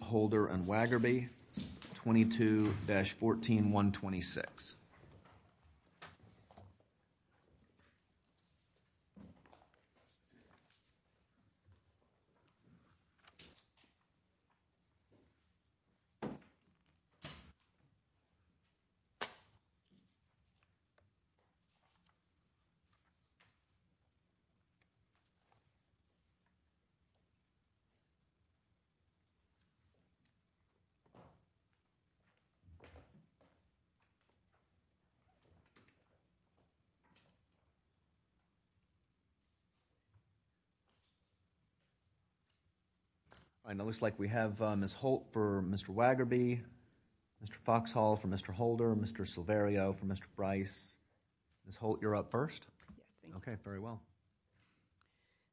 Holder and Waggerby, 22-14126. It looks like we have Ms. Holt for Mr. Waggerby, Mr. Foxhall for Mr. Holder, Mr. Silverio for Mr. Brice. Ms. Holt, you're up first. Okay, very well.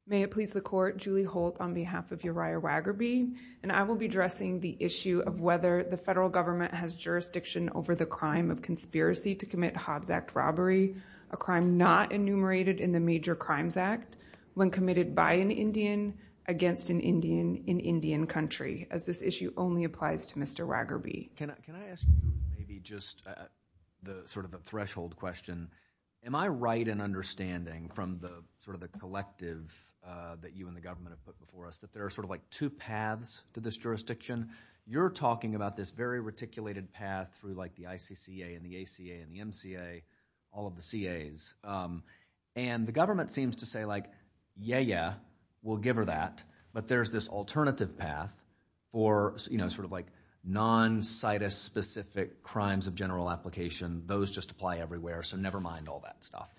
May it please the Court, Julie Holt on behalf of Uriah Waggerby, and I will be addressing the issue of whether the federal government has jurisdiction over the crime of conspiracy to commit Hobbs Act robbery, a crime not enumerated in the Major Crimes Act, when committed by an Indian, against an Indian, in Indian country, as this issue only applies to Mr. Waggerby. Can I ask maybe just sort of a threshold question? Am I right in understanding from the sort of the collective that you and the government have put before us that there are sort of like two paths to this jurisdiction? You're talking about this very reticulated path through like the ICCA and the ACA and the MCA, all of the CAs, and the government seems to say like, yeah, yeah, we'll give her that, but there's this alternative path for, you know, sort of like non-CITUS specific crimes of general application. Those just apply everywhere, so never mind all that stuff.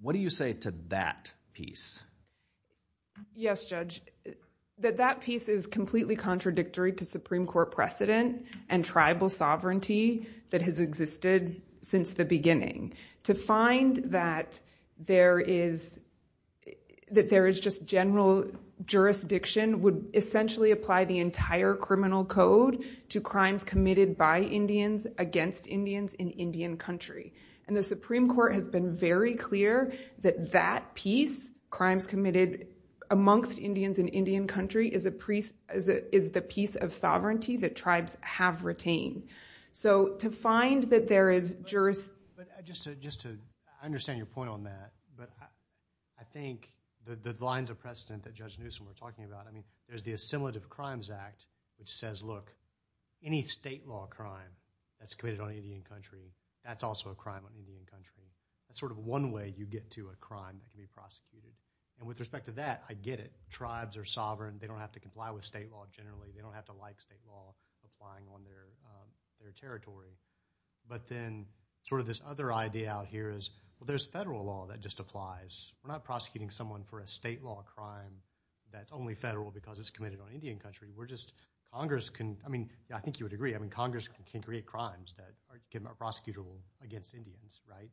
What do you say to that piece? Yes, Judge. That that piece is completely contradictory to Supreme Court precedent and tribal sovereignty that has existed since the beginning. To find that there is just general jurisdiction would essentially apply the entire criminal code to crimes committed by Indians, against Indians, in Indian country, and the Supreme Court has been very clear that that piece, crimes committed amongst Indians in Indian country, is the piece of sovereignty that tribes have retained, so to find that there is jurisdiction. But just to, I understand your point on that, but I think the lines of precedent that Judge says, look, any state law crime that's committed on Indian country, that's also a crime on Indian country. That's sort of one way you get to a crime to be prosecuted, and with respect to that, I get it. Tribes are sovereign. They don't have to comply with state law generally. They don't have to like state law applying on their territory, but then sort of this other idea out here is, well, there's federal law that just applies. We're not prosecuting someone for a state law crime that's only federal because it's committed on Indian country. We're just, Congress can, I mean, I think you would agree, I mean, Congress can create crimes that are prosecutable against Indians, right?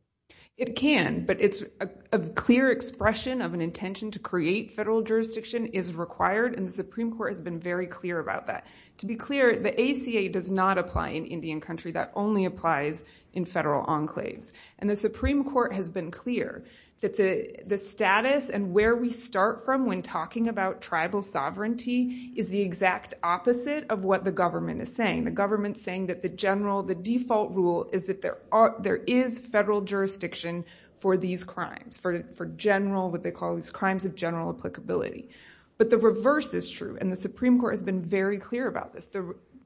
It can, but it's a clear expression of an intention to create federal jurisdiction is required, and the Supreme Court has been very clear about that. To be clear, the ACA does not apply in Indian country. That only applies in federal enclaves, and the Supreme Court has been clear that the status and where we start from when talking about tribal sovereignty is the exact opposite of what the government is saying. The government's saying that the general, the default rule is that there is federal jurisdiction for these crimes, for general, what they call these crimes of general applicability, but the reverse is true, and the Supreme Court has been very clear about this.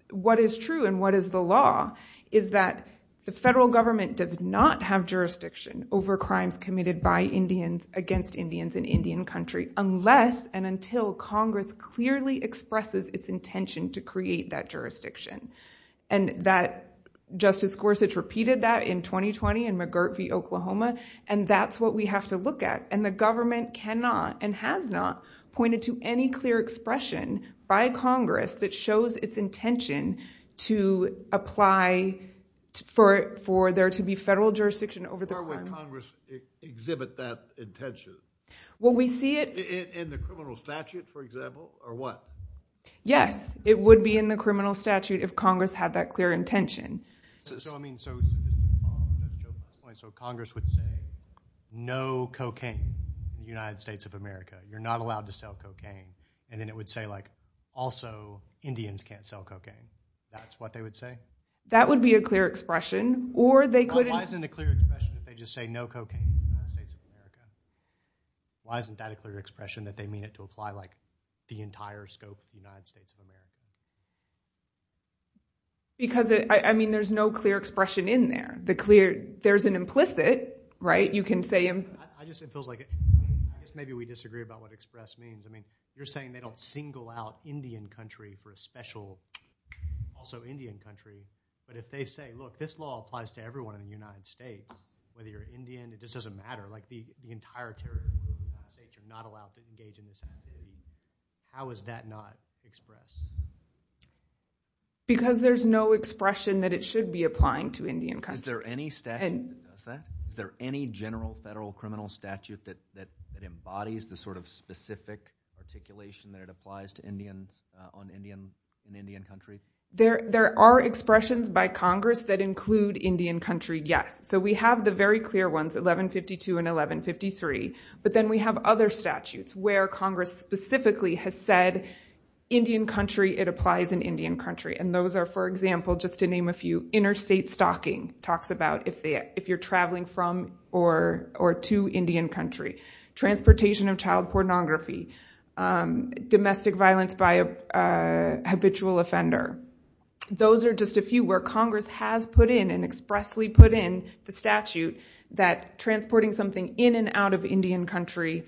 What is true and what is the law is that the federal government does not have jurisdiction over crimes committed by Indians against Indians in Indian country unless and until Congress clearly expresses its intention to create that jurisdiction, and that Justice Gorsuch repeated that in 2020 in McGirt v. Oklahoma, and that's what we have to look at, and the government cannot and has not pointed to any clear expression by Congress that shows its intention to apply for there to be federal jurisdiction over the crime. Why would Congress exhibit that intention? Well, we see it... In the criminal statute, for example, or what? Yes, it would be in the criminal statute if Congress had that clear intention. So, I mean, so Congress would say, no cocaine in the United States of America. You're not allowed to sell cocaine, and then it would say, like, also, Indians can't sell cocaine. That's what they would say? That would be a clear expression, or they could... Why isn't it a clear expression if they just say no cocaine in the United States of America? Why isn't that a clear expression that they mean it to apply, like, the entire scope of the United States of America? Because, I mean, there's no clear expression in there. The clear... There's an implicit, right? You can say... I just... It feels like... I guess maybe we disagree about what express means. You're saying they don't single out Indian country for a special... Also, Indian country. But if they say, look, this law applies to everyone in the United States, whether you're Indian, it just doesn't matter. Like, the entire territory of the United States, you're not allowed to engage in this activity. How is that not expressed? Because there's no expression that it should be applying to Indian country. Is there any statute that does that? Is there any general federal criminal statute that embodies the sort of specific articulation that it applies to Indians in Indian country? There are expressions by Congress that include Indian country, yes. So we have the very clear ones, 1152 and 1153. But then we have other statutes where Congress specifically has said, Indian country, it applies in Indian country. And those are, for example, just to name a few, interstate stocking talks about if you're traveling from or to Indian country. Transportation of child pornography. Domestic violence by a habitual offender. Those are just a few where Congress has put in and expressly put in the statute that transporting something in and out of Indian country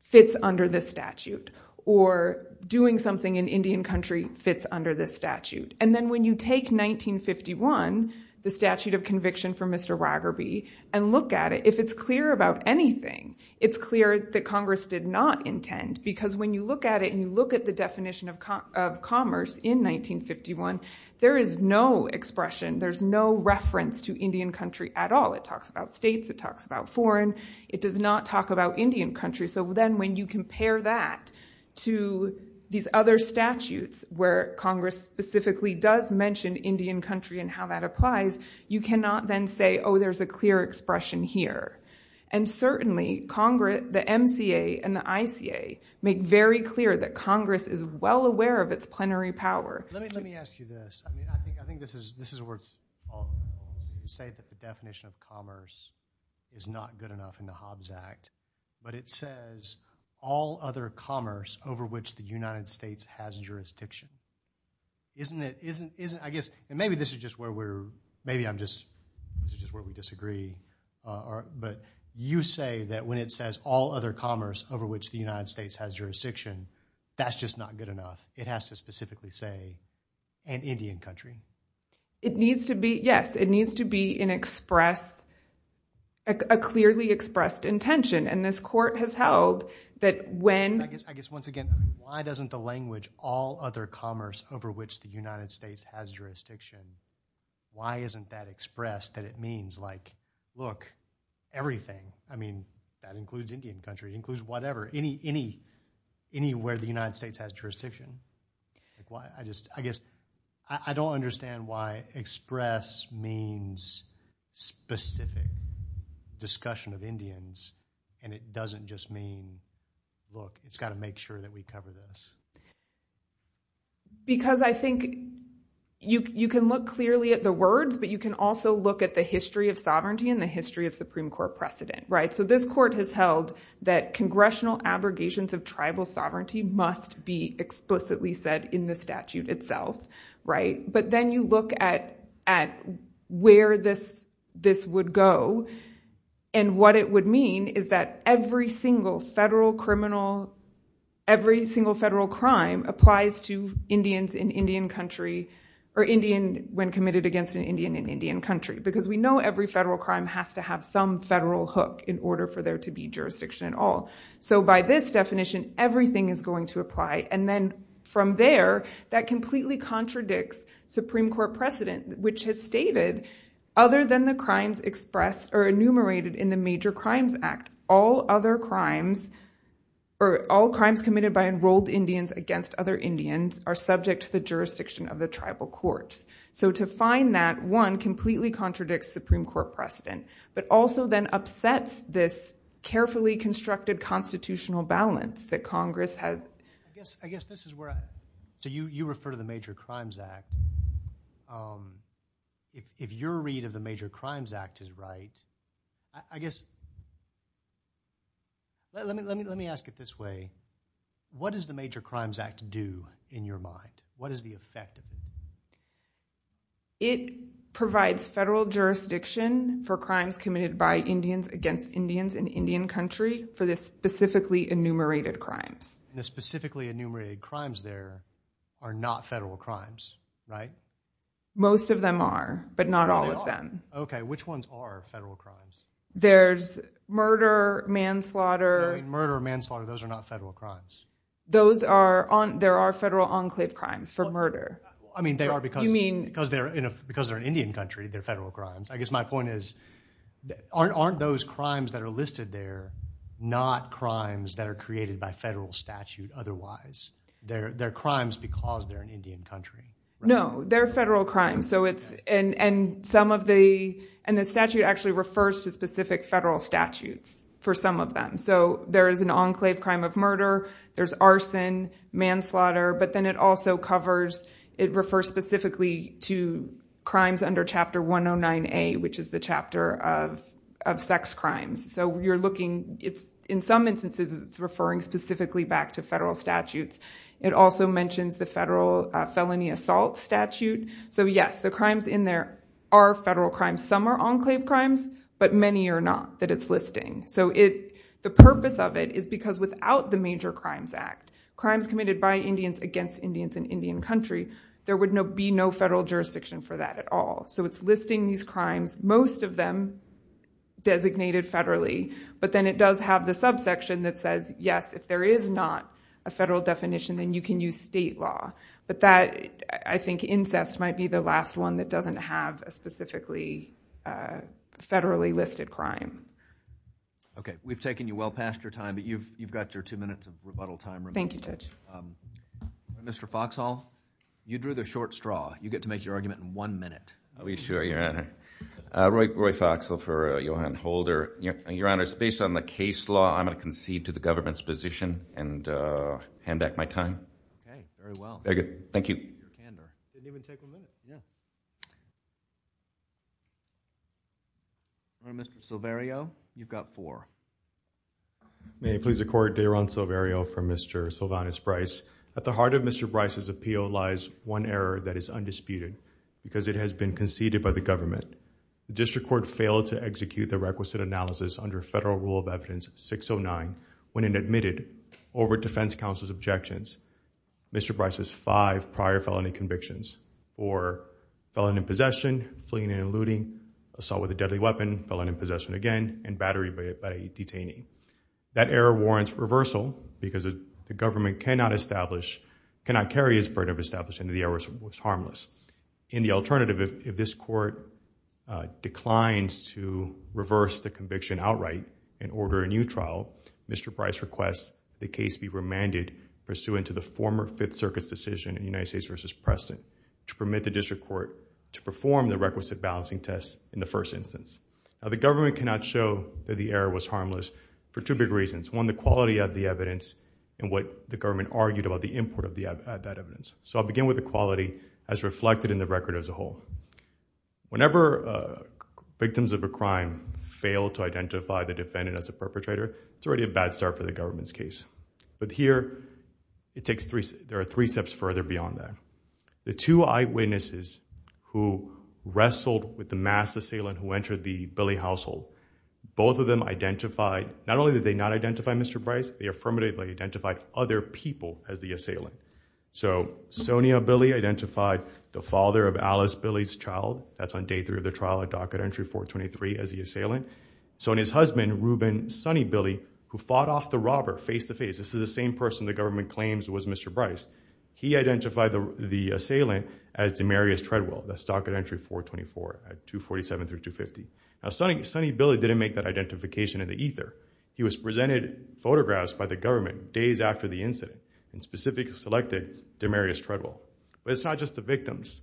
fits under this statute. Or doing something in Indian country fits under this statute. And then when you take 1951, the statute of conviction for Mr. Raggerby, and look at it, if it's clear about anything, it's clear that Congress did not intend. Because when you look at it and you look at the definition of commerce in 1951, there is no expression. There's no reference to Indian country at all. It talks about states. It talks about foreign. It does not talk about Indian country. So then when you compare that to these other statutes where Congress specifically does mention Indian country and how that applies, you cannot then say, oh, there's a clear expression here. And certainly Congress, the MCA and the ICA make very clear that Congress is well aware of its plenary power. Let me ask you this. I mean, I think this is a word to say that the definition of commerce is not good enough in the Hobbs Act. But it says all other commerce over which the United States has jurisdiction. Isn't it, isn't, isn't, I guess, and maybe this is just where we're, maybe I'm just, this is just where we disagree. But you say that when it says all other commerce over which the United States has jurisdiction, that's just not good enough. It has to specifically say an Indian country. It needs to be, yes, it needs to be an express, a clearly expressed intention. And this court has held that when... I guess, once again, why doesn't the language, all other commerce over which the United States has jurisdiction, why isn't that expressed that it means like, look, everything. I mean, that includes Indian country, includes whatever, any, any, anywhere the United States has jurisdiction. Like why? I just, I guess, I don't understand why express means specific discussion of Indians. And it doesn't just mean, look, it's got to make sure that we cover this. Because I think you can look clearly at the words, but you can also look at the history of sovereignty and the history of Supreme Court precedent, right? So this court has held that congressional abrogations of tribal sovereignty must be explicitly said in the statute itself, right? But then you look at, at where this, this would go. And what it would mean is that every single federal criminal, every single federal crime applies to Indians in Indian country or Indian when committed against an Indian in Indian country, because we know every federal crime has to have some federal hook in order for there to be jurisdiction at all. So by this definition, everything is going to apply. And then from there, that completely contradicts Supreme Court precedent, which has stated other than the crimes expressed or enumerated in the Major Crimes Act, all other crimes or all crimes committed by enrolled Indians against other Indians are subject to the jurisdiction of the tribal courts. So to find that one completely contradicts Supreme Court precedent, but also then upsets this carefully constructed constitutional balance that Congress has. I guess this is where, so you refer to the Major Crimes Act. If your read of the Major Crimes Act is right, I guess, let me ask it this way. What does the Major Crimes Act do in your mind? What is the effect? It provides federal jurisdiction for crimes committed by Indians against Indians in Indian country for this specifically enumerated crimes. The specifically enumerated crimes there are not federal crimes, right? Most of them are, but not all of them. Okay, which ones are federal crimes? There's murder, manslaughter. Murder, manslaughter, those are not federal crimes. There are federal enclave crimes for murder. I mean, they are because they're in Indian country. They're federal crimes. I guess my point is, aren't those crimes that are listed there not crimes that are created by federal statute otherwise? They're crimes because they're in Indian country. No, they're federal crimes. The statute actually refers to specific federal statutes for some of them. There is an enclave crime of murder. There's arson, manslaughter, but then it also covers, it refers specifically to crimes under Chapter 109A, which is the chapter of sex crimes. So you're looking, in some instances, it's referring specifically back to federal statutes. It also mentions the federal felony assault statute. So yes, the crimes in there are federal crimes. Some are enclave crimes, but many are not that it's listing. So the purpose of it is because without the Major Crimes Act, crimes committed by Indians against Indians in Indian country, there would be no federal jurisdiction for that at all. So it's listing these crimes. Most of them designated federally. But then it does have the subsection that says, yes, if there is not a federal definition, then you can use state law. But that, I think incest might be the last one that doesn't have a specifically federally listed crime. Okay. We've taken you well past your time, but you've got your two minutes of rebuttal time remaining. Thank you, Judge. Mr. Foxhall, you drew the short straw. You get to make your argument in one minute. I'll be sure, Your Honor. Roy Foxhall for Johan Holder. Your Honor, it's based on the case law. I'm going to concede to the government's position and hand back my time. Okay. Very well. Very good. Thank you. All right, Mr. Silverio, you've got four. May I please record, Daron Silverio for Mr. Sylvanus Bryce. At the heart of Mr. Bryce's appeal lies one error that is undisputed, because it has been conceded by the government. The district court failed to execute the requisite analysis under federal rule of evidence 609 when it admitted over defense counsel's objections Mr. Bryce's five prior felony convictions for felon in possession, fleeing and eluding, assault with a deadly weapon, felon in possession again, and battery by detaining. That error warrants reversal because the government cannot establish, cannot carry his burden of establishing that the error was harmless. In the alternative, if this court declines to reverse the conviction outright and order a new trial, Mr. Bryce requests the case be remanded pursuant to the former Fifth Circuit's decision in United States v. Preston to permit the district court to perform the requisite balancing test in the first instance. The government cannot show that the error was harmless for two big reasons. One, the quality of the evidence and what the government argued about the input of that evidence. So I'll begin with the quality as reflected in the record as a whole. Whenever victims of a crime fail to identify the defendant as a perpetrator, it's already a bad start for the government's case. But here, it takes three, there are three steps further beyond that. The two eyewitnesses who wrestled with the mass assailant who entered the Billy household, both of them identified, not only did they not identify Mr. Bryce, they affirmatively identified other people as the assailant. So Sonia Billy identified the father of Alice Billy's child, that's on day three of the trial at docket entry 423 as the assailant. Sonia's husband, Reuben Sonny Billy, who fought off the robber face-to-face, this is the same person the government claims was Mr. Bryce, he identified the assailant as Demarius Treadwell, that's docket entry 424 at 247 through 250. Now Sonny Billy didn't make that identification in the ether. He was presented photographs by the government days after the incident and specifically selected Demarius Treadwell. But it's not just the victims.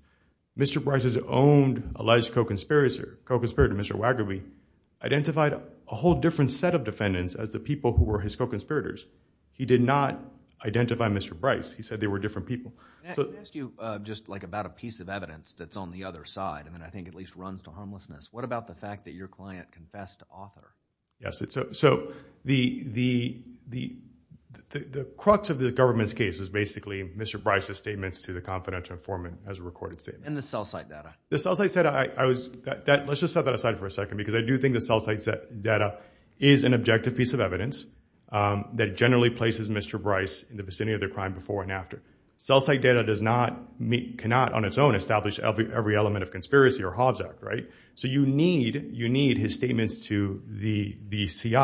Mr. Bryce's owned alleged co-conspirator, co-conspirator Mr. Waggerby, identified a whole different set of defendants as the people who were his co-conspirators. He did not identify Mr. Bryce. He said they were different people. Can I ask you just like about a piece of evidence that's on the other side, and I think at least runs to homelessness. What about the fact that your client confessed to author? Yes, so the crux of the government's case is basically Mr. Bryce's statements to the confidential informant as a recorded statement. And the cell site data. The cell site data, let's just set that aside for a second, because I do think the cell site data is an objective piece of evidence that generally places Mr. Bryce in the vicinity of their crime before and after. Cell site data does not, cannot on its own, establish every element of conspiracy or Hobbs Act, right? So you need, you need his statements to the CI.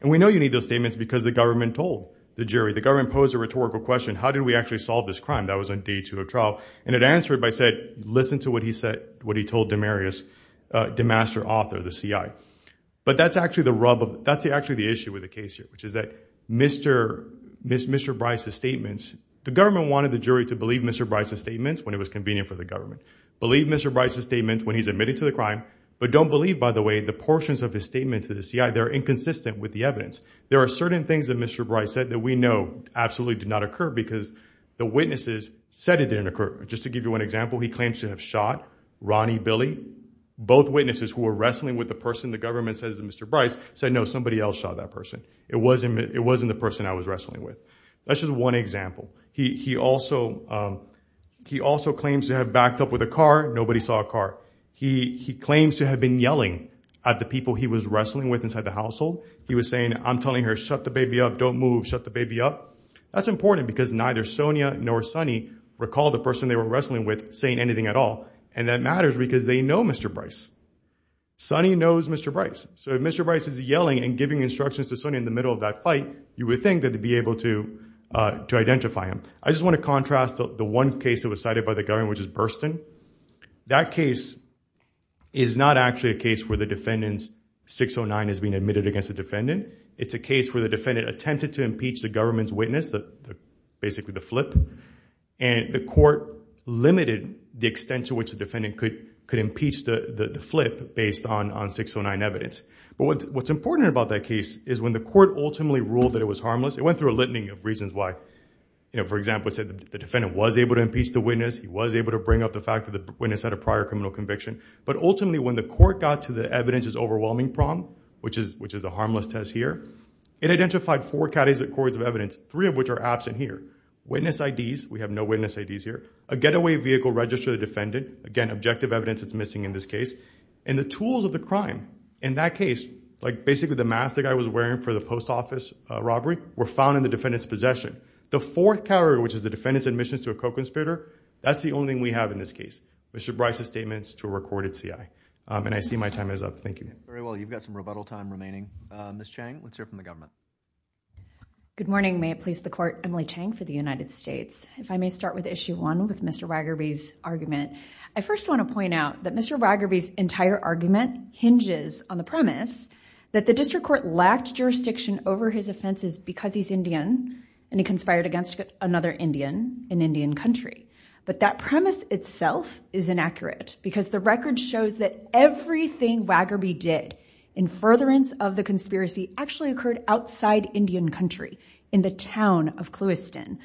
And we know you need those statements because the government told the jury. The government posed a rhetorical question. How did we actually solve this crime? That was on day two of trial. And it answered by said, listen to what he said, what he told Demarius, the master author, the CI. But that's actually the rub of, that's actually the issue with the case here, which is that Mr. Bryce's statements, the government wanted the jury to believe Mr. Bryce's statements when it was convenient for the government. Believe Mr. Bryce's statements when he's admitted to the crime, don't believe by the way, the portions of his statements to the CI, they're inconsistent with the evidence. There are certain things that Mr. Bryce said that we know absolutely did not occur because the witnesses said it didn't occur. Just to give you an example, he claims to have shot Ronnie Billy. Both witnesses who were wrestling with the person, the government says that Mr. Bryce said, no, somebody else shot that person. It wasn't, it wasn't the person I was wrestling with. That's just one example. He, he also, he also claims to have backed up with a car. Nobody saw a car. He, he claims to have been yelling at the people he was wrestling with inside the household. He was saying, I'm telling her, shut the baby up, don't move, shut the baby up. That's important because neither Sonia nor Sonny recall the person they were wrestling with saying anything at all. And that matters because they know Mr. Bryce. Sonny knows Mr. Bryce. So if Mr. Bryce is yelling and giving instructions to Sonia in the middle of that fight, you would think that they'd be able to, uh, to identify him. I just want to contrast the one case that was cited by the government, which is Burstyn. That case is not actually a case where the defendant's 609 is being admitted against the defendant. It's a case where the defendant attempted to impeach the government's witness, the, basically the flip, and the court limited the extent to which the defendant could, could impeach the, the flip based on, on 609 evidence. But what's, what's important about that case is when the court ultimately ruled that it was harmless, it went through a litany of reasons why, you know, for example, it said the defendant was able to impeach the witness. He was able to bring up the fact that the witness had a prior criminal conviction. But ultimately when the court got to the evidence's overwhelming problem, which is, which is a harmless test here, it identified four categories of evidence, three of which are absent here. Witness IDs, we have no witness IDs here. A getaway vehicle registered to the defendant. Again, objective evidence that's missing in this case. And the tools of the crime in that case, like basically the mask the guy was wearing for the post office robbery, were found in the defendant's possession. The fourth category, which is the defendant's admissions to a co-conspirator, that's the only thing we have in this case. Mr. Bryce's statements to a recorded CI. And I see my time is up. Thank you. Very well. You've got some rebuttal time remaining. Ms. Chang, let's hear from the government. Good morning. May it please the court, Emily Chang for the United States. If I may start with issue one with Mr. Waggerby's argument. I first want to point out that Mr. Waggerby's entire argument hinges on the premise that the district court lacked jurisdiction over his offenses because he's Indian. And he conspired against another Indian in Indian country. But that premise itself is inaccurate because the record shows that everything Waggerby did in furtherance of the conspiracy actually occurred outside Indian country in the town of Clewiston.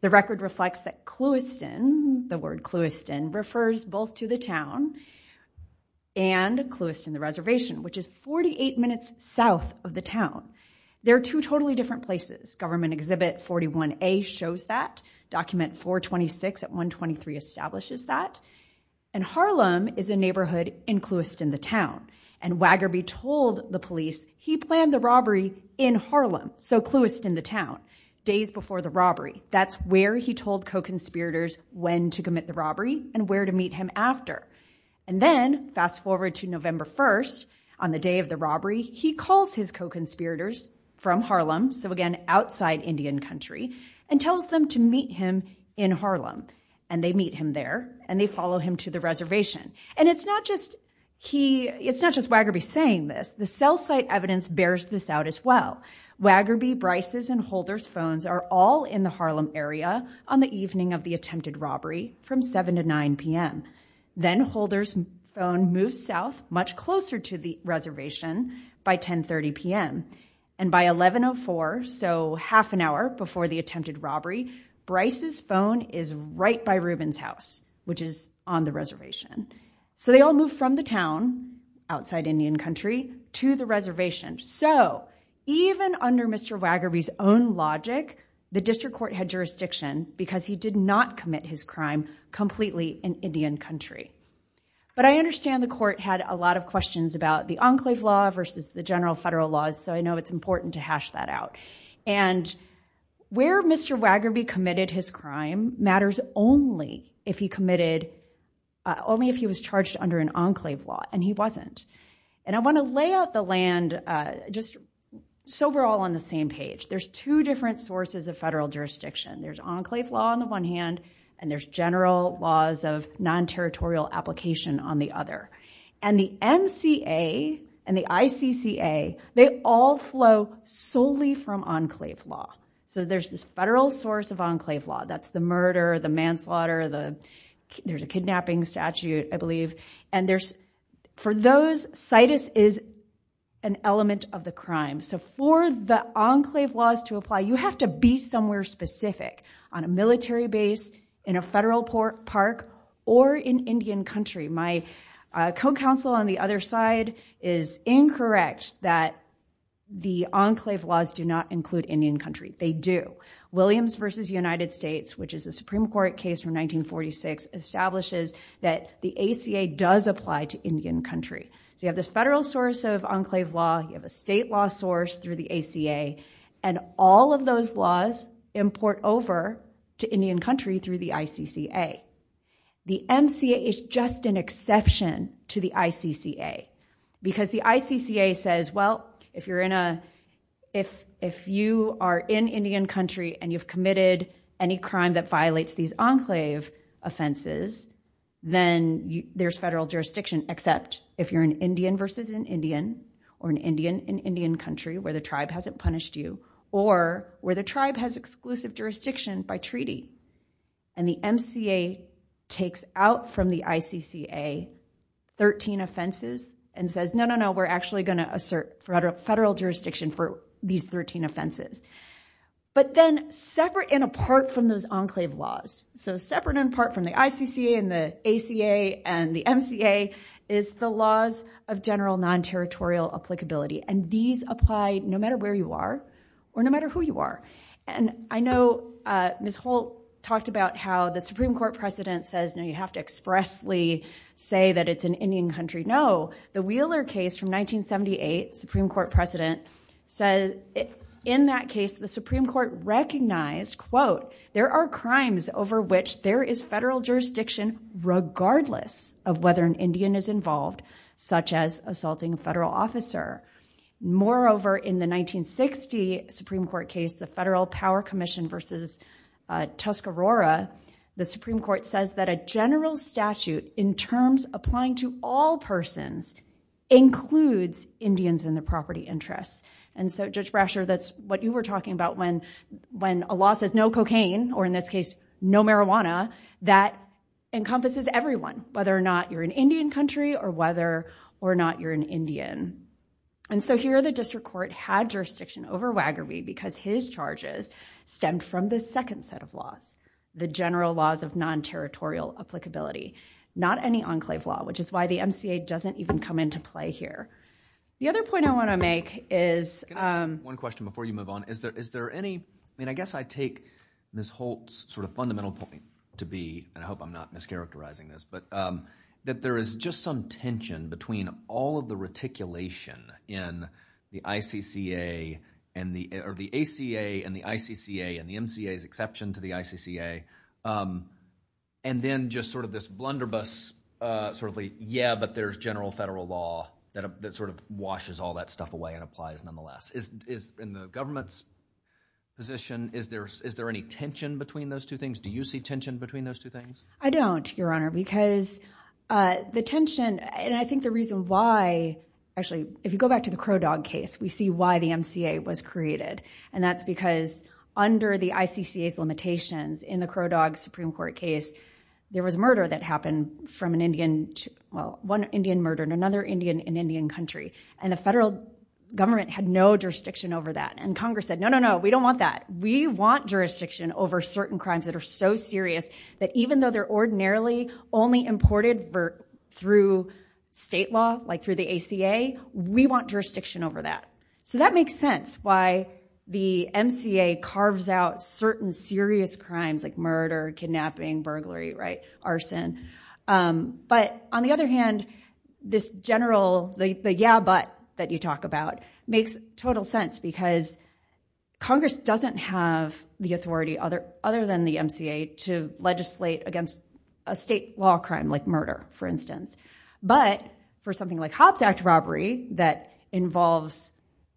The record reflects that Clewiston, the word Clewiston, refers both to the town and Clewiston, the reservation, which is 48 minutes south of the town. There are two totally different places. Government Exhibit 41A shows that. Document 426 at 123 establishes that. And Harlem is a neighborhood in Clewiston, the town. And Waggerby told the police he planned the robbery in Harlem, so Clewiston, the town, days before the robbery. That's where he told co-conspirators when to commit the robbery and where to meet him after. And then fast forward to November 1st, on the day of the robbery, he calls his co-conspirators from Harlem, so again, outside Indian country, and tells them to meet him in Harlem. And they meet him there and they follow him to the reservation. And it's not just Waggerby saying this. The cell site evidence bears this out as well. Waggerby, Bryce's, and Holder's phones are all in the Harlem area on the evening of the attempted robbery from 7 to 9 p.m. Then Holder's phone moves south, much closer to the reservation, by 10.30 p.m. And by 11.04, so half an hour before the attempted robbery, Bryce's phone is right by Rubin's house, which is on the reservation. So they all move from the town, outside Indian country, to the reservation. So even under Mr. Waggerby's own logic, the district court had jurisdiction because he did not commit his crime completely in Indian country. But I understand the court had a lot of questions about the enclave law versus the general federal laws, so I know it's important to hash that out. And where Mr. Waggerby committed his crime matters only if he was charged under an enclave law, and he wasn't. And I want to lay out the land just so we're all on the same page. There's two different sources of federal jurisdiction. There's enclave law on the one hand, and there's general laws of non-territorial application on the other. And the MCA and the ICCA, they all flow solely from enclave law. So there's this federal source of enclave law. That's the murder, the manslaughter, there's a kidnapping statute, I believe. And for those, situs is an element of the crime. So for the enclave laws to apply, you have to be somewhere specific, on a military base, in a federal park, or in Indian country. My co-counsel on the other side is incorrect that the enclave laws do not include Indian country. They do. Williams versus United States, which is a Supreme Court case from 1946, establishes that the ACA does apply to Indian country. So you have this federal source of enclave law, you have a state law source through the ACA, and all of those laws import over to Indian country through the ICCA. The MCA is just an exception to the ICCA. Because the ICCA says, well, if you're in a, if you are in Indian country and you've committed any crime that violates these enclave offenses, then there's federal jurisdiction, except if you're an Indian versus an Indian, or an Indian in Indian country, where the tribe hasn't punished you, or where the tribe has exclusive jurisdiction by treaty. And the MCA takes out from the ICCA 13 offenses and says, no, no, no, we're actually going to assert federal jurisdiction for these 13 offenses. But then, separate and apart from those enclave laws, so separate and apart from the ICCA and the ACA and the MCA, is the laws of general non-territorial applicability. And these apply no matter where you are, or no matter who you are. And I know Ms. Holt talked about how the Supreme Court precedent says, no, you have to expressly say that it's an Indian country. No, the Wheeler case from 1978, Supreme Court precedent, says in that case, the Supreme regardless of whether an Indian is involved, such as assaulting a federal officer. Moreover, in the 1960 Supreme Court case, the Federal Power Commission versus Tuscarora, the Supreme Court says that a general statute, in terms applying to all persons, includes Indians in the property interests. And so, Judge Brasher, that's what you were talking about when a law says no cocaine, or in this case, no marijuana, that encompasses everyone, whether or not you're an Indian country or whether or not you're an Indian. And so here, the district court had jurisdiction over Wagerby because his charges stemmed from the second set of laws, the general laws of non-territorial applicability. Not any enclave law, which is why the MCA doesn't even come into play here. The other point I want to make is... One question before you move on. Is there any... I mean, I guess I take Ms. Holt's sort of fundamental point to be, and I hope I'm not mischaracterizing this, but that there is just some tension between all of the reticulation in the ACA and the ICCA, and the MCA's exception to the ICCA, and then just sort of this blunderbuss sort of like, yeah, but there's general federal law that sort of washes all that stuff away and applies nonetheless. In the government's position, is there any tension between those two things? Do you see tension between those two things? I don't, Your Honor, because the tension... And I think the reason why... Actually, if you go back to the Crow Dog case, we see why the MCA was created, and that's because under the ICCA's limitations in the Crow Dog Supreme Court case, there was murder that happened from an Indian... One Indian murder in another Indian in Indian country, and the federal government had no jurisdiction over that. And Congress said, no, no, no, we don't want that. We want jurisdiction over certain crimes that are so serious that even though they're ordinarily only imported through state law, like through the ACA, we want jurisdiction over that. So that makes sense why the MCA carves out certain serious crimes like murder, kidnapping, burglary, arson. But on the other hand, this general, the yeah, but that you talk about makes total sense because Congress doesn't have the authority other than the MCA to legislate against a state law crime like murder, for instance. But for something like Hobbs Act robbery that involves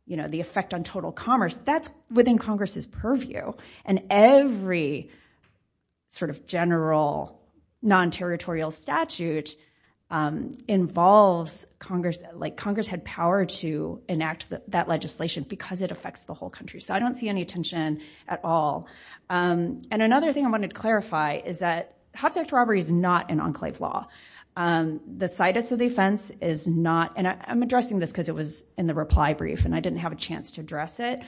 the effect on total commerce, that's within Congress's purview. And every sort of general non-territorial statute involves Congress, like Congress had power to enact that legislation because it affects the whole country. So I don't see any attention at all. And another thing I wanted to clarify is that Hobbs Act robbery is not an enclave law. The situs of the offense is not, and I'm addressing this because it was in the reply brief and I didn't have a chance to address it.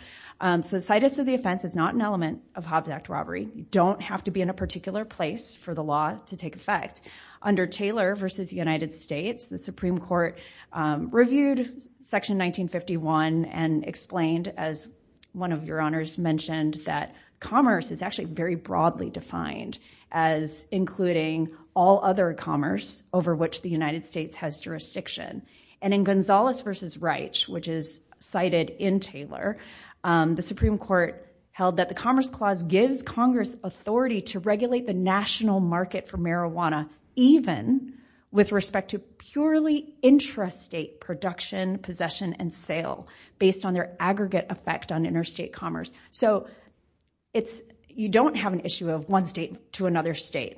So the situs of the offense is not an element of Hobbs Act robbery. You don't have to be in a particular place for the law to take effect. Under Taylor versus United States, the Supreme Court reviewed section 1951 and explained as one of your honors mentioned that commerce is actually very broadly defined as including all other commerce over which the United States has jurisdiction. And in Gonzalez versus Reich, which is cited in Taylor, the Supreme Court held that the Commerce Clause gives Congress authority to regulate the national market for marijuana even with respect to purely intrastate production, possession, and sale based on their aggregate effect on interstate commerce. So you don't have an issue of one state to another state.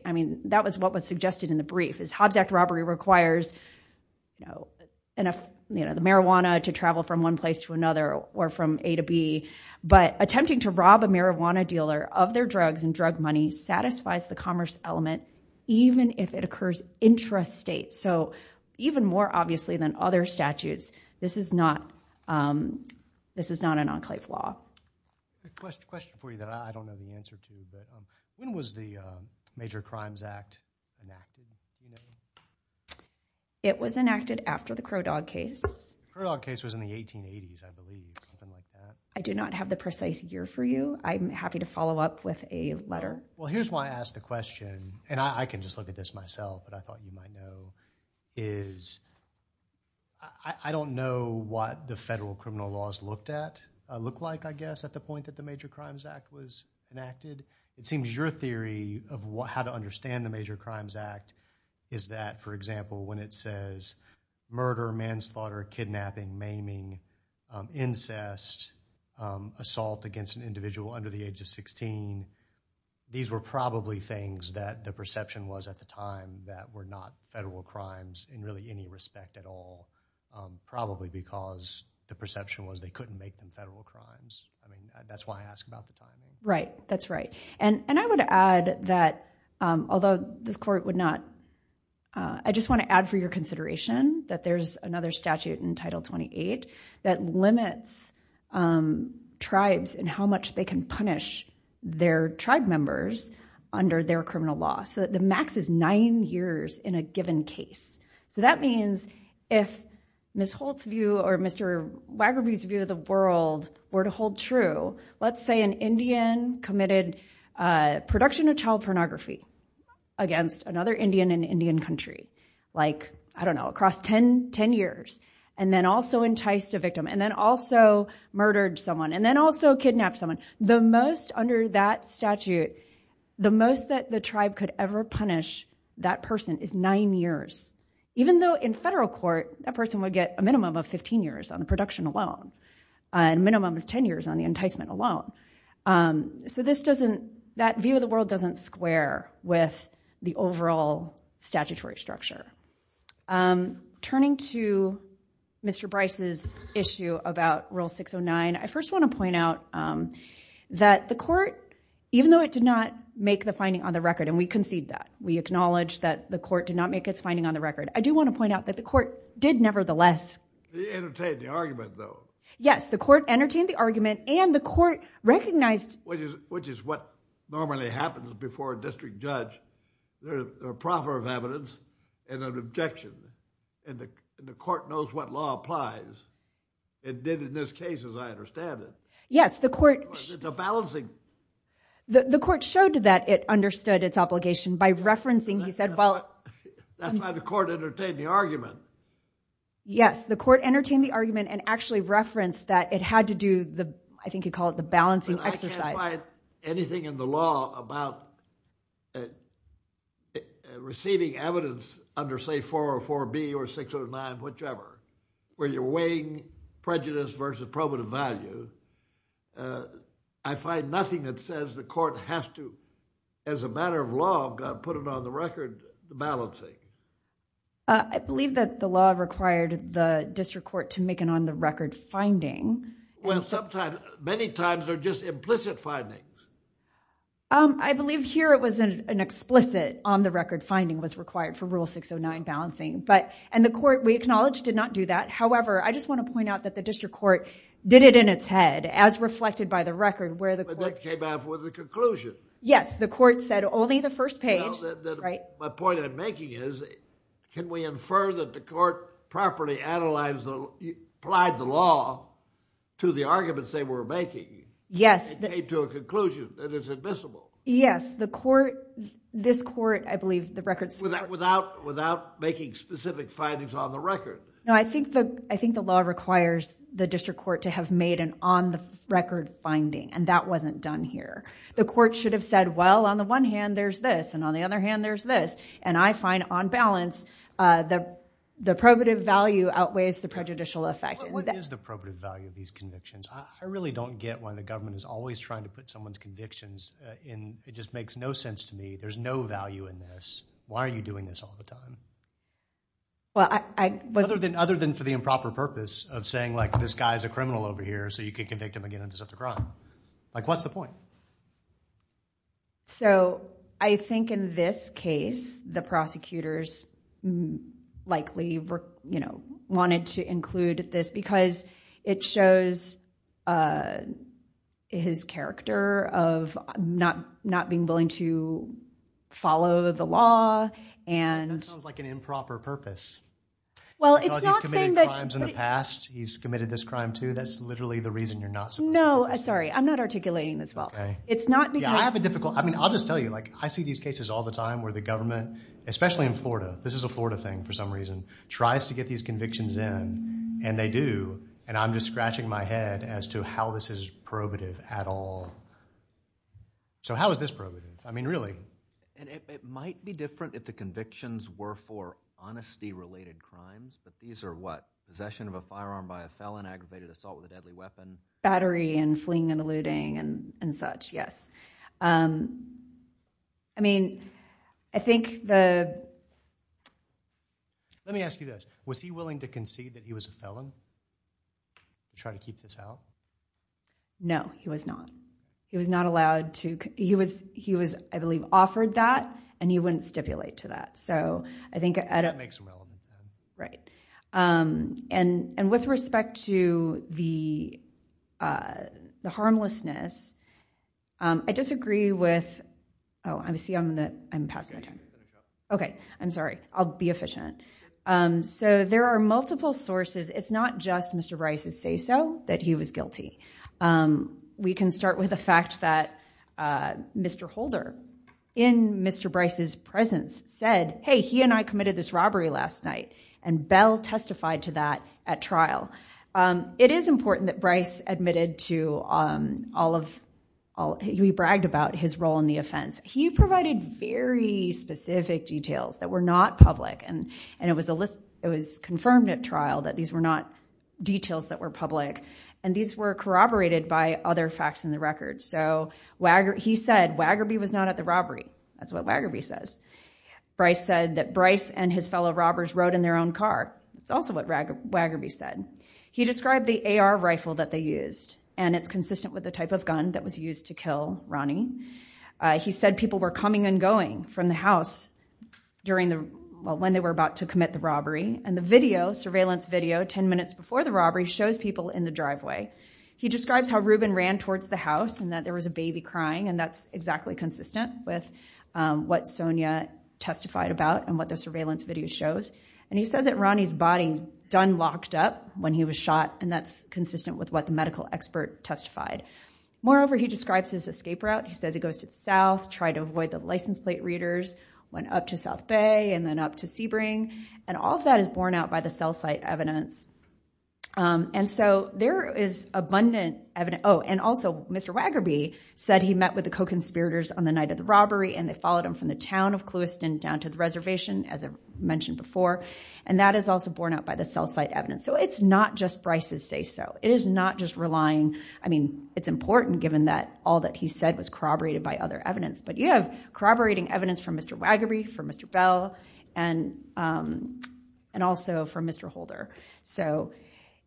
That was what was suggested in the brief. Hobbs Act robbery requires the marijuana to travel from one place to another or from A to B, but attempting to rob a marijuana dealer of their drugs and drug money satisfies the commerce element even if it occurs intrastate. So even more obviously than other statutes, this is not an enclave law. Question for you that I don't know the answer to. When was the Major Crimes Act enacted? It was enacted after the Crow Dog case. Crow Dog case was in the 1880s, I believe. Something like that. I do not have the precise year for you. I'm happy to follow up with a letter. Well, here's why I asked the question. And I can just look at this myself, but I thought you might know is I don't know what the federal criminal laws looked like, I guess, at the point that the Major Crimes Act was enacted. It seems your theory of how to understand the Major Crimes Act is that, for example, when it says murder, manslaughter, kidnapping, maiming, incest, assault against an individual under the age of 16, these were probably things that the perception was at the time that were federal crimes in really any respect at all, probably because the perception was they couldn't make them federal crimes. I mean, that's why I asked about the timing. Right. That's right. And I would add that, although this court would not, I just want to add for your consideration that there's another statute in Title 28 that limits tribes and how much they can punish their tribe members under their criminal law. The max is nine years in a given case. So that means if Ms. Holt's view or Mr. Waggerby's view of the world were to hold true, let's say an Indian committed production of child pornography against another Indian in an Indian country, like, I don't know, across 10 years, and then also enticed a victim, and then also murdered someone, and then also kidnapped someone, the most under that statute, the punish that person is nine years, even though in federal court, that person would get a minimum of 15 years on the production alone, a minimum of 10 years on the enticement alone. So this doesn't, that view of the world doesn't square with the overall statutory structure. Turning to Mr. Bryce's issue about Rule 609, I first want to point out that the court, even though it did not make the finding on the record, and we concede that. We acknowledge that the court did not make its finding on the record. I do want to point out that the court did nevertheless... They entertained the argument, though. Yes, the court entertained the argument, and the court recognized... Which is what normally happens before a district judge. There's a proffer of evidence and an objection, and the court knows what law applies. It did in this case, as I understand it. Yes, the court... It's a balancing... The court showed that it understood its obligation by referencing, he said, well... That's why the court entertained the argument. Yes, the court entertained the argument and actually referenced that it had to do the, I think you'd call it the balancing exercise. But I can't find anything in the law about receiving evidence under, say, 404B or 609, whichever, where you're weighing prejudice versus probative value. I find nothing that says the court has to, as a matter of law, put it on the record, the balancing. I believe that the law required the district court to make an on-the-record finding. Well, sometimes... Many times, they're just implicit findings. I believe here it was an explicit on-the-record finding was required for Rule 609 balancing. The court, we acknowledge, did not do that. However, I just want to point out that the district court did it in its head, as reflected by the record, where the court... That came out with a conclusion. Yes, the court said only the first page... My point I'm making is, can we infer that the court properly applied the law to the arguments they were making and came to a conclusion that it's admissible? Yes, the court... This court, I believe, the records... Without making specific findings on the record. No, I think the law requires the district court to have made an on-the-record finding, and that wasn't done here. The court should have said, well, on the one hand, there's this, and on the other hand, there's this. I find, on balance, the probative value outweighs the prejudicial effect. What is the probative value of these convictions? I really don't get why the government is always trying to put someone's convictions in... It just makes no sense to me. There's no value in this. Why are you doing this all the time? Other than for the improper purpose of saying, like, this guy's a criminal over here, so you can convict him again and just have to cry. Like, what's the point? So, I think in this case, the prosecutors likely wanted to include this because it shows his character of not being willing to follow the law and... That sounds like an improper purpose. Well, it's not saying that... You know, he's committed crimes in the past. He's committed this crime, too. That's literally the reason you're not supposed to do this. No, sorry. I'm not articulating this well. It's not because... Yeah, I have a difficult... I mean, I'll just tell you, like, I see these cases all the time where the government, especially in Florida, this is a Florida thing for some reason, tries to get these convictions in, and they do, and I'm just scratching my head as to how this is probative at all. So, how is this probative? I mean, really. And it might be different if the convictions were for honesty-related crimes, but these are, what, possession of a firearm by a felon, aggravated assault with a deadly weapon... Battery and fleeing and eluding and such, yes. I mean, I think the... Let me ask you this. Was he willing to concede that he was a felon to try to keep this out? No, he was not. He was not allowed to... He was, I believe, offered that, and he wouldn't stipulate to that. So, I think... That makes him eligible. Right. And with respect to the harmlessness, I disagree with... Oh, I see I'm going to... I'm passing my time. Okay, I'm sorry. I'll be efficient. So, there are multiple sources. It's not just Mr. Bryce's say-so that he was guilty. We can start with the fact that Mr. Holder, in Mr. Bryce's presence, said, hey, he and I committed this robbery last night, and Bell testified to that at trial. It is important that Bryce admitted to all of... He bragged about his role in the offense. He provided very specific details that were not public, and it was confirmed at trial that these were not details that were public, and these were corroborated by other facts in the record. So, he said, Waggerby was not at the robbery. That's what Waggerby says. Bryce said that Bryce and his fellow robbers rode in their own car. It's also what Waggerby said. He described the AR rifle that they used, and it's consistent with the type of gun that was used to kill Ronnie. He said people were coming and going from the house when they were about to commit the robbery, and the surveillance video 10 minutes before the robbery shows people in the driveway. He describes how Reuben ran towards the house, and that there was a baby crying, and that's exactly consistent with what Sonia testified about and what the surveillance video shows. And he says that Ronnie's body done locked up when he was shot, and that's consistent with what the medical expert testified. Moreover, he describes his escape route. He says he goes to the south, tried to avoid the license plate readers, went up to South Bay, and then up to Sebring, and all of that is borne out by the cell site evidence. And so, there is abundant evidence. Oh, and also, Mr. Waggerby said he met with the co-conspirators on the night of the robbery, and they followed him from the town of Clewiston down to the reservation, as I mentioned before, and that is also borne out by the cell site evidence. So, it's not just Bryce's say-so. It is not just relying, I mean, it's important given that all that he said was corroborated by other evidence, but you have corroborating evidence from Mr. Waggerby, from Mr. Bell, and also from Mr. Holder. So,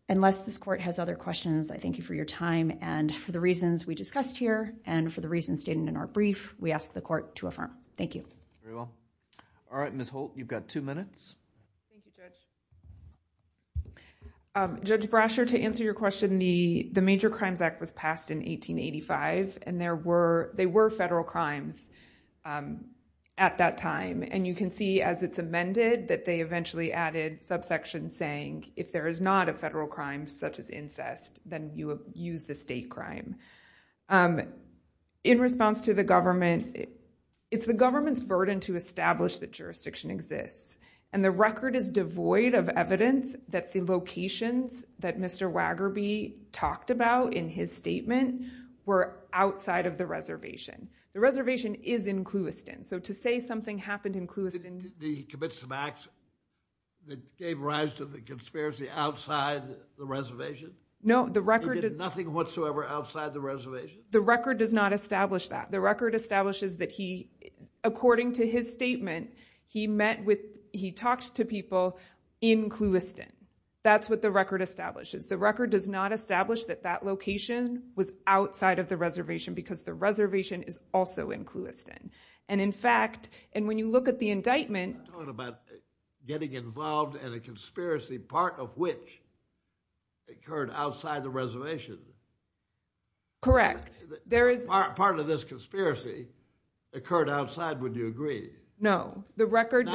unless this court has other questions, I thank you for your time, and for the reasons we discussed here, and for the reasons stated in our brief, we ask the court to affirm. Thank you. Very well. All right, Ms. Holt, you've got two minutes. Thank you, Judge. Judge Brasher, to answer your question, the Major Crimes Act was passed in 1885, and there were, they were federal crimes at that time, and you can see as it's amended that they eventually added subsection saying, if there is not a federal crime such as incest, then you use the state crime. In response to the government, it's the government's burden to establish that jurisdiction exists, and the record is devoid of evidence that the locations that Mr. Waggerby talked about in his statement were outside of the reservation. The reservation is in Clewiston, so to say something happened in Clewiston... He commits some acts that gave rise to the conspiracy outside the reservation? No, the record... He did nothing whatsoever outside the reservation? The record does not establish that. The record establishes that he, according to his statement, he met with, he talked to people in Clewiston. That's what the record establishes. The record does not establish that that location was outside of the reservation, because the reservation is also in Clewiston, and in fact, and when you look at the indictment... You're talking about getting involved in a conspiracy, part of which occurred outside the reservation. Correct, there is... Part of this conspiracy occurred outside, would you agree? No, the record...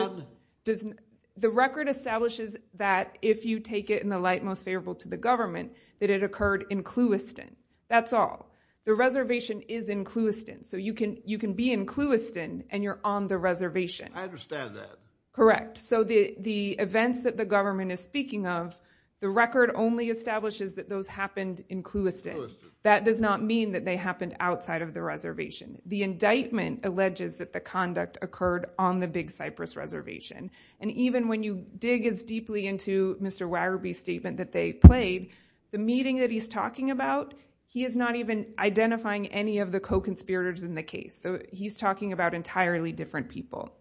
The record establishes that if you take it in the light most favorable to the government, that it occurred in Clewiston, that's all. The reservation is in Clewiston, so you can be in Clewiston and you're on the reservation. I understand that. Correct, so the events that the government is speaking of, the record only establishes that those happened in Clewiston. That does not mean that they happened outside of the reservation. The indictment alleges that the conduct occurred on the Big Cypress Reservation, and even when you dig as deeply into Mr. Waggerby's statement that they played, the meeting that he's talking about, he is not even identifying any of the co-conspirators in the case. He's talking about entirely different people.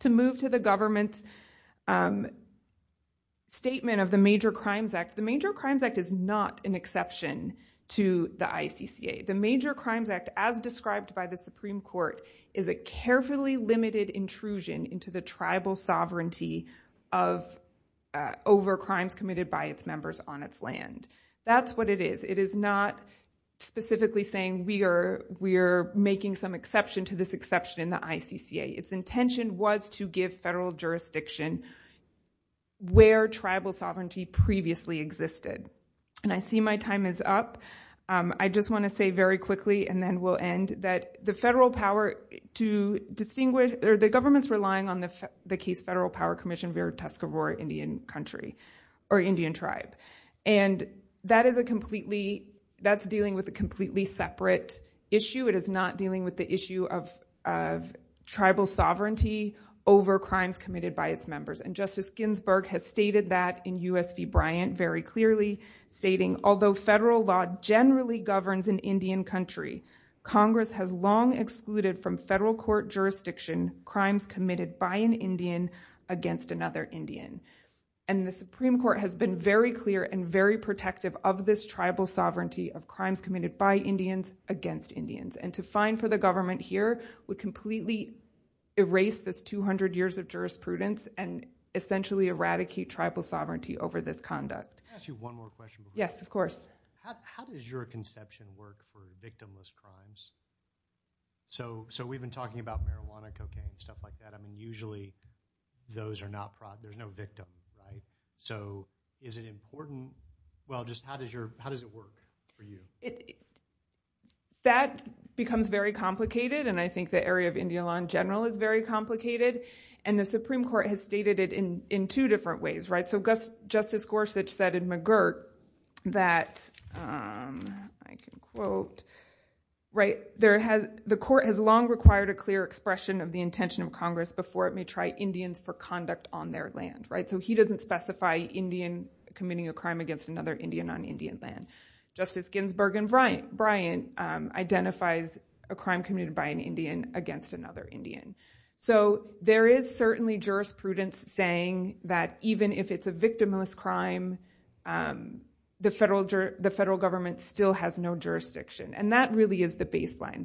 To move to the government's statement of the Major Crimes Act, the Major Crimes Act is not an exception to the ICCA. The Major Crimes Act, as described by the Supreme Court, is a carefully limited intrusion into the tribal sovereignty over crimes committed by its members on its land. That's what it is. It is not specifically saying we are making some exception to this exception in the ICCA. Its intention was to give federal jurisdiction where tribal sovereignty previously existed, and I see my time is up. I just want to say very quickly, and then we'll end, that the government's relying on the case Federal Power Commission v. Tuscarora Indian Country or Indian Tribe, and that's dealing with a completely separate issue. It is not dealing with the issue of tribal sovereignty over crimes committed by its members, and Justice Ginsburg has stated that in U.S. v. Bryant very clearly, stating, although federal law generally governs an Indian country, Congress has long excluded from federal court jurisdiction crimes committed by an Indian against another Indian, and the Supreme Court has been very clear and very protective of this tribal sovereignty of crimes committed by Indians against Indians, and to find for the government here would completely erase this 200 years of jurisprudence and essentially eradicate tribal sovereignty over this conduct. Can I ask you one more question? Yes, of course. How does your conception work for victimless crimes? So we've been talking about marijuana, cocaine, and stuff like that. I mean, usually those are not fraud. There's no victim, right? So is it important? Well, just how does it work for you? That becomes very complicated, and I think the area of Indian law in general is very complicated, and the Supreme Court has stated it in two different ways, right? Justice Gorsuch said in McGirt that, I can quote, the court has long required a clear expression of the intention of Congress before it may try Indians for conduct on their land, right? So he doesn't specify Indian committing a crime against another Indian on Indian land. Justice Ginsburg and Bryant identifies a crime committed by an Indian against another Indian. So there is certainly jurisprudence saying that even if it's a victimless crime, the federal government still has no jurisdiction, and that really is the baseline.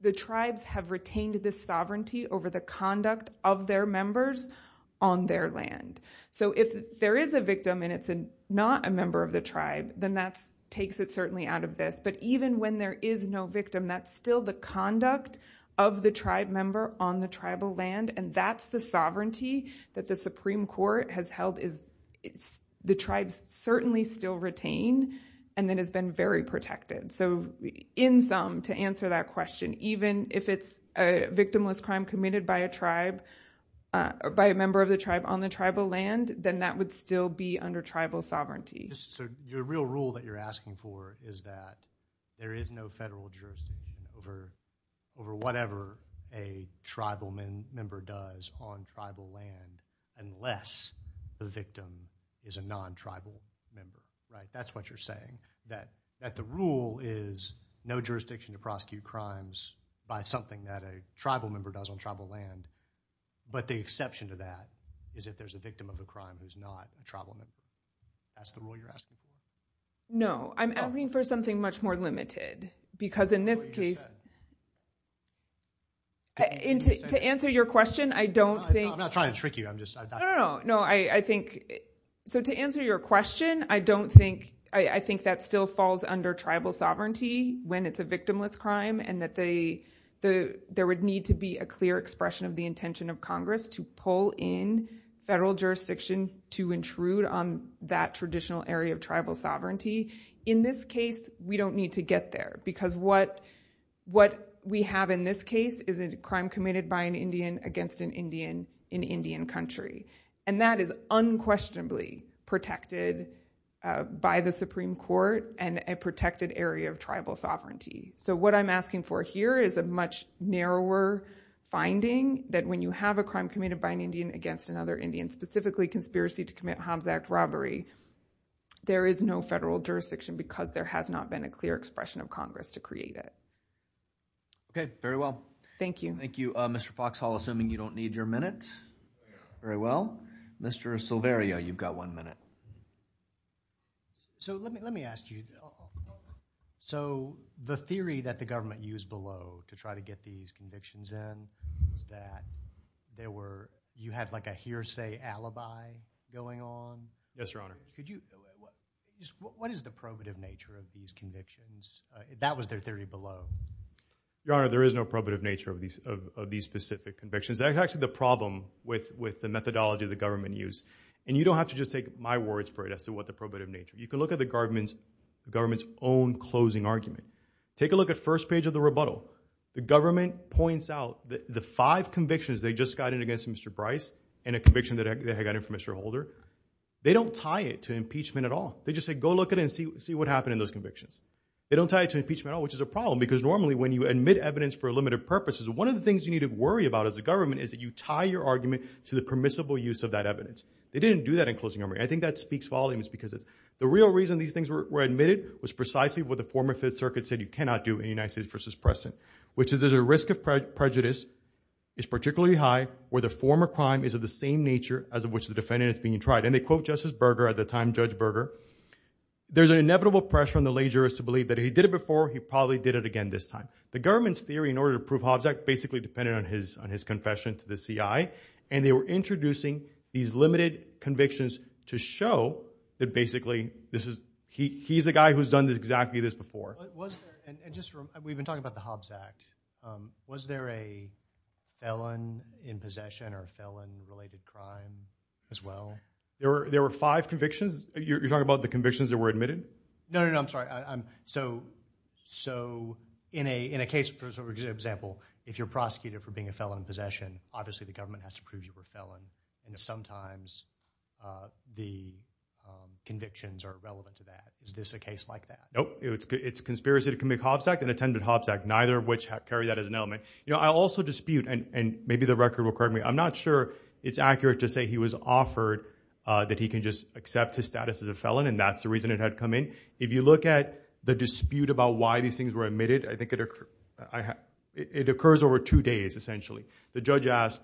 The tribes have retained this sovereignty over the conduct of their members on their land. So if there is a victim and it's not a member of the tribe, then that takes it certainly out of this. But even when there is no victim, that's still the conduct of the tribe member on the tribal land, and that's the sovereignty that the Supreme Court has held is the tribes certainly still retain and then has been very protected. So in sum, to answer that question, even if it's a victimless crime committed by a tribe, by a member of the tribe on the tribal land, then that would still be under tribal sovereignty. So your real rule that you're asking for is that there is no federal jurisdiction over whatever a tribal member does on tribal land unless the victim is a non-tribal member, right? That's what you're saying, that the rule is no jurisdiction to prosecute crimes by something that a tribal member does on tribal land, but the exception to that is if there's a victim of a crime who's not a tribal member. That's the rule you're asking for? No, I'm asking for something much more limited because in this case... To answer your question, I don't think... I'm not trying to trick you, I'm just... No, no, no, I think... So to answer your question, I don't think... I think that still falls under tribal sovereignty when it's a victimless crime and that there would need to be a clear expression of the intention of Congress to pull in federal jurisdiction to intrude on that traditional area of tribal sovereignty. In this case, we don't need to get there because what we have in this case is a crime committed by an Indian against an Indian in Indian country, and that is unquestionably protected by the Supreme Court and a protected area of tribal sovereignty. So what I'm asking for here is a much narrower finding that when you have a crime committed by an Indian against another Indian, specifically conspiracy to commit harm's act robbery, there is no federal jurisdiction because there has not been a clear expression of Congress to create it. Okay, very well. Thank you. Thank you. Mr. Foxhall, assuming you don't need your minute. Very well. Mr. Silverio, you've got one minute. So let me ask you. So the theory that the government used below to try to get these convictions in is that you had like a hearsay alibi going on? Yes, Your Honor. What is the probative nature of these convictions? That was their theory below. Your Honor, there is no probative nature of these specific convictions. That's actually the problem with the methodology the government used. And you don't have to just take my words for it as to what the probative nature. You can look at the government's own closing argument. Take a look at first page of the rebuttal. The government points out that the five convictions they just got in against Mr. Bryce and a conviction that they had gotten from Mr. Holder, they don't tie it to impeachment at all. They just say, go look at it and see what happened in those convictions. They don't tie it to impeachment at all, which is a problem, because normally when you admit evidence for a limited purpose, one of the things you need to worry about as a government is that you tie your argument to the permissible use of that evidence. They didn't do that in closing argument. I think that speaks volumes because the real reason these things were admitted was precisely what the former Fifth Circuit said you cannot do in United States versus Preston, which is there's a risk of prejudice, it's particularly high, where the former crime is of the same nature as of which the defendant is being tried, and they quote Justice Berger at the time, Judge Berger, there's an inevitable pressure on the lay jurist to believe that he did it before, he probably did it again this time. The government's theory in order to prove Hobbs Act basically depended on his confession to the CI, and they were introducing these limited convictions to show that basically this is, he's a guy who's done exactly this before. We've been talking about the Hobbs Act. Was there a felon in possession or a felon-related crime as well? There were five convictions. You're talking about the convictions that were admitted? No, no, no, I'm sorry. So in a case, for example, if you're prosecuted for being a felon in possession, obviously the government has to prove you were a felon, and sometimes the convictions are irrelevant to that. Is this a case like that? Nope, it's conspiracy to commit Hobbs Act and attended Hobbs Act, neither of which carry that as an element. I also dispute, and maybe the record will correct me, I'm not sure it's accurate to say he was offered that he can just accept his status as a felon, and that's the reason it had come in. If you look at the dispute about why these things were admitted, I think it occurs over two days, essentially. The judge asked,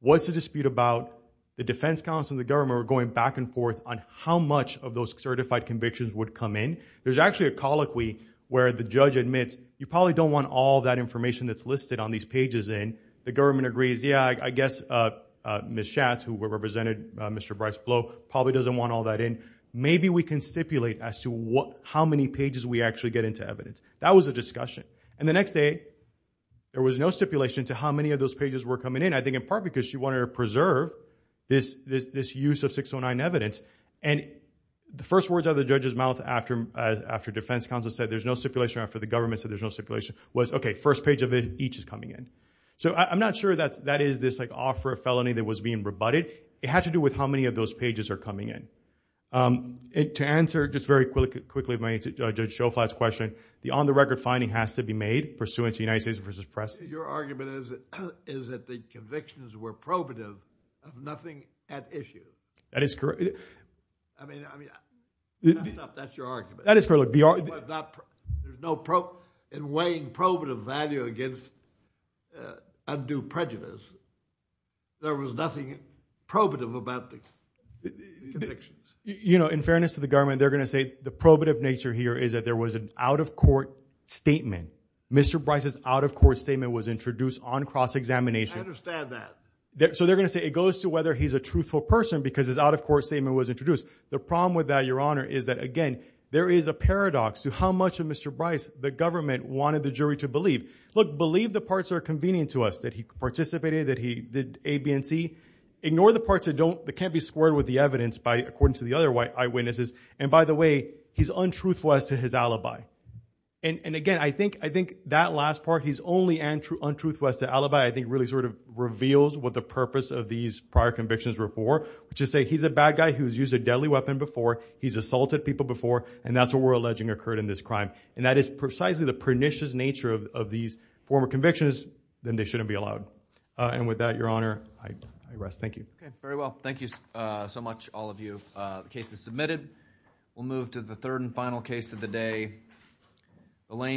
what's the dispute about the defense counsel and the government were going back and forth on how much of those certified convictions would come in? There's actually a colloquy where the judge admits, you probably don't want all that information that's listed on these pages in. The government agrees, yeah, I guess Ms. Schatz, who represented Mr. Bryce Blow, probably doesn't want all that in. Maybe we can stipulate as to how many pages we actually get into evidence. That was a discussion. And the next day, there was no stipulation to how many of those pages were coming in. I think in part because she wanted to preserve this use of 609 evidence. And the first words out of the judge's mouth after defense counsel said there's no stipulation, after the government said there's no stipulation, was, okay, first page of it, each is coming in. So I'm not sure that is this offer of felony that was being rebutted. It has to do with how many of those pages are coming in. To answer, just very quickly, my answer to Judge Schoflat's question, the on-the-record finding has to be made pursuant to United States v. Press. Your argument is that the convictions were probative of nothing at issue. That is correct. I mean, that's your argument. That is correct. But in weighing probative value against undue prejudice, there was nothing probative about the convictions. You know, in fairness to the government, they're going to say the probative nature here is that there was an out-of-court statement. Mr. Bryce's out-of-court statement was introduced on cross-examination. I understand that. So they're going to say it goes to whether he's a truthful person because his out-of-court statement was introduced. The problem with that, Your Honor, is that, again, there is a paradox to how much of Mr. Bryce the government wanted the jury to believe. Look, believe the parts that are convenient to us, that he participated, that he did A, B, and C. Ignore the parts that can't be squared with the evidence according to the other eyewitnesses. And by the way, he's untruthful as to his alibi. And again, I think that last part, he's only untruthful as to alibi, I think really sort of reveals what the purpose of these prior convictions were for, which is to say he's a bad guy who's used a deadly weapon before. He's assaulted people before. And that's what we're alleging occurred in this crime. And that is precisely the pernicious nature of these former convictions, then they shouldn't be allowed. And with that, Your Honor, I rest. Thank you. Very well. Thank you so much, all of you. The case is submitted. We'll move to the third and final case of the day. Elaine.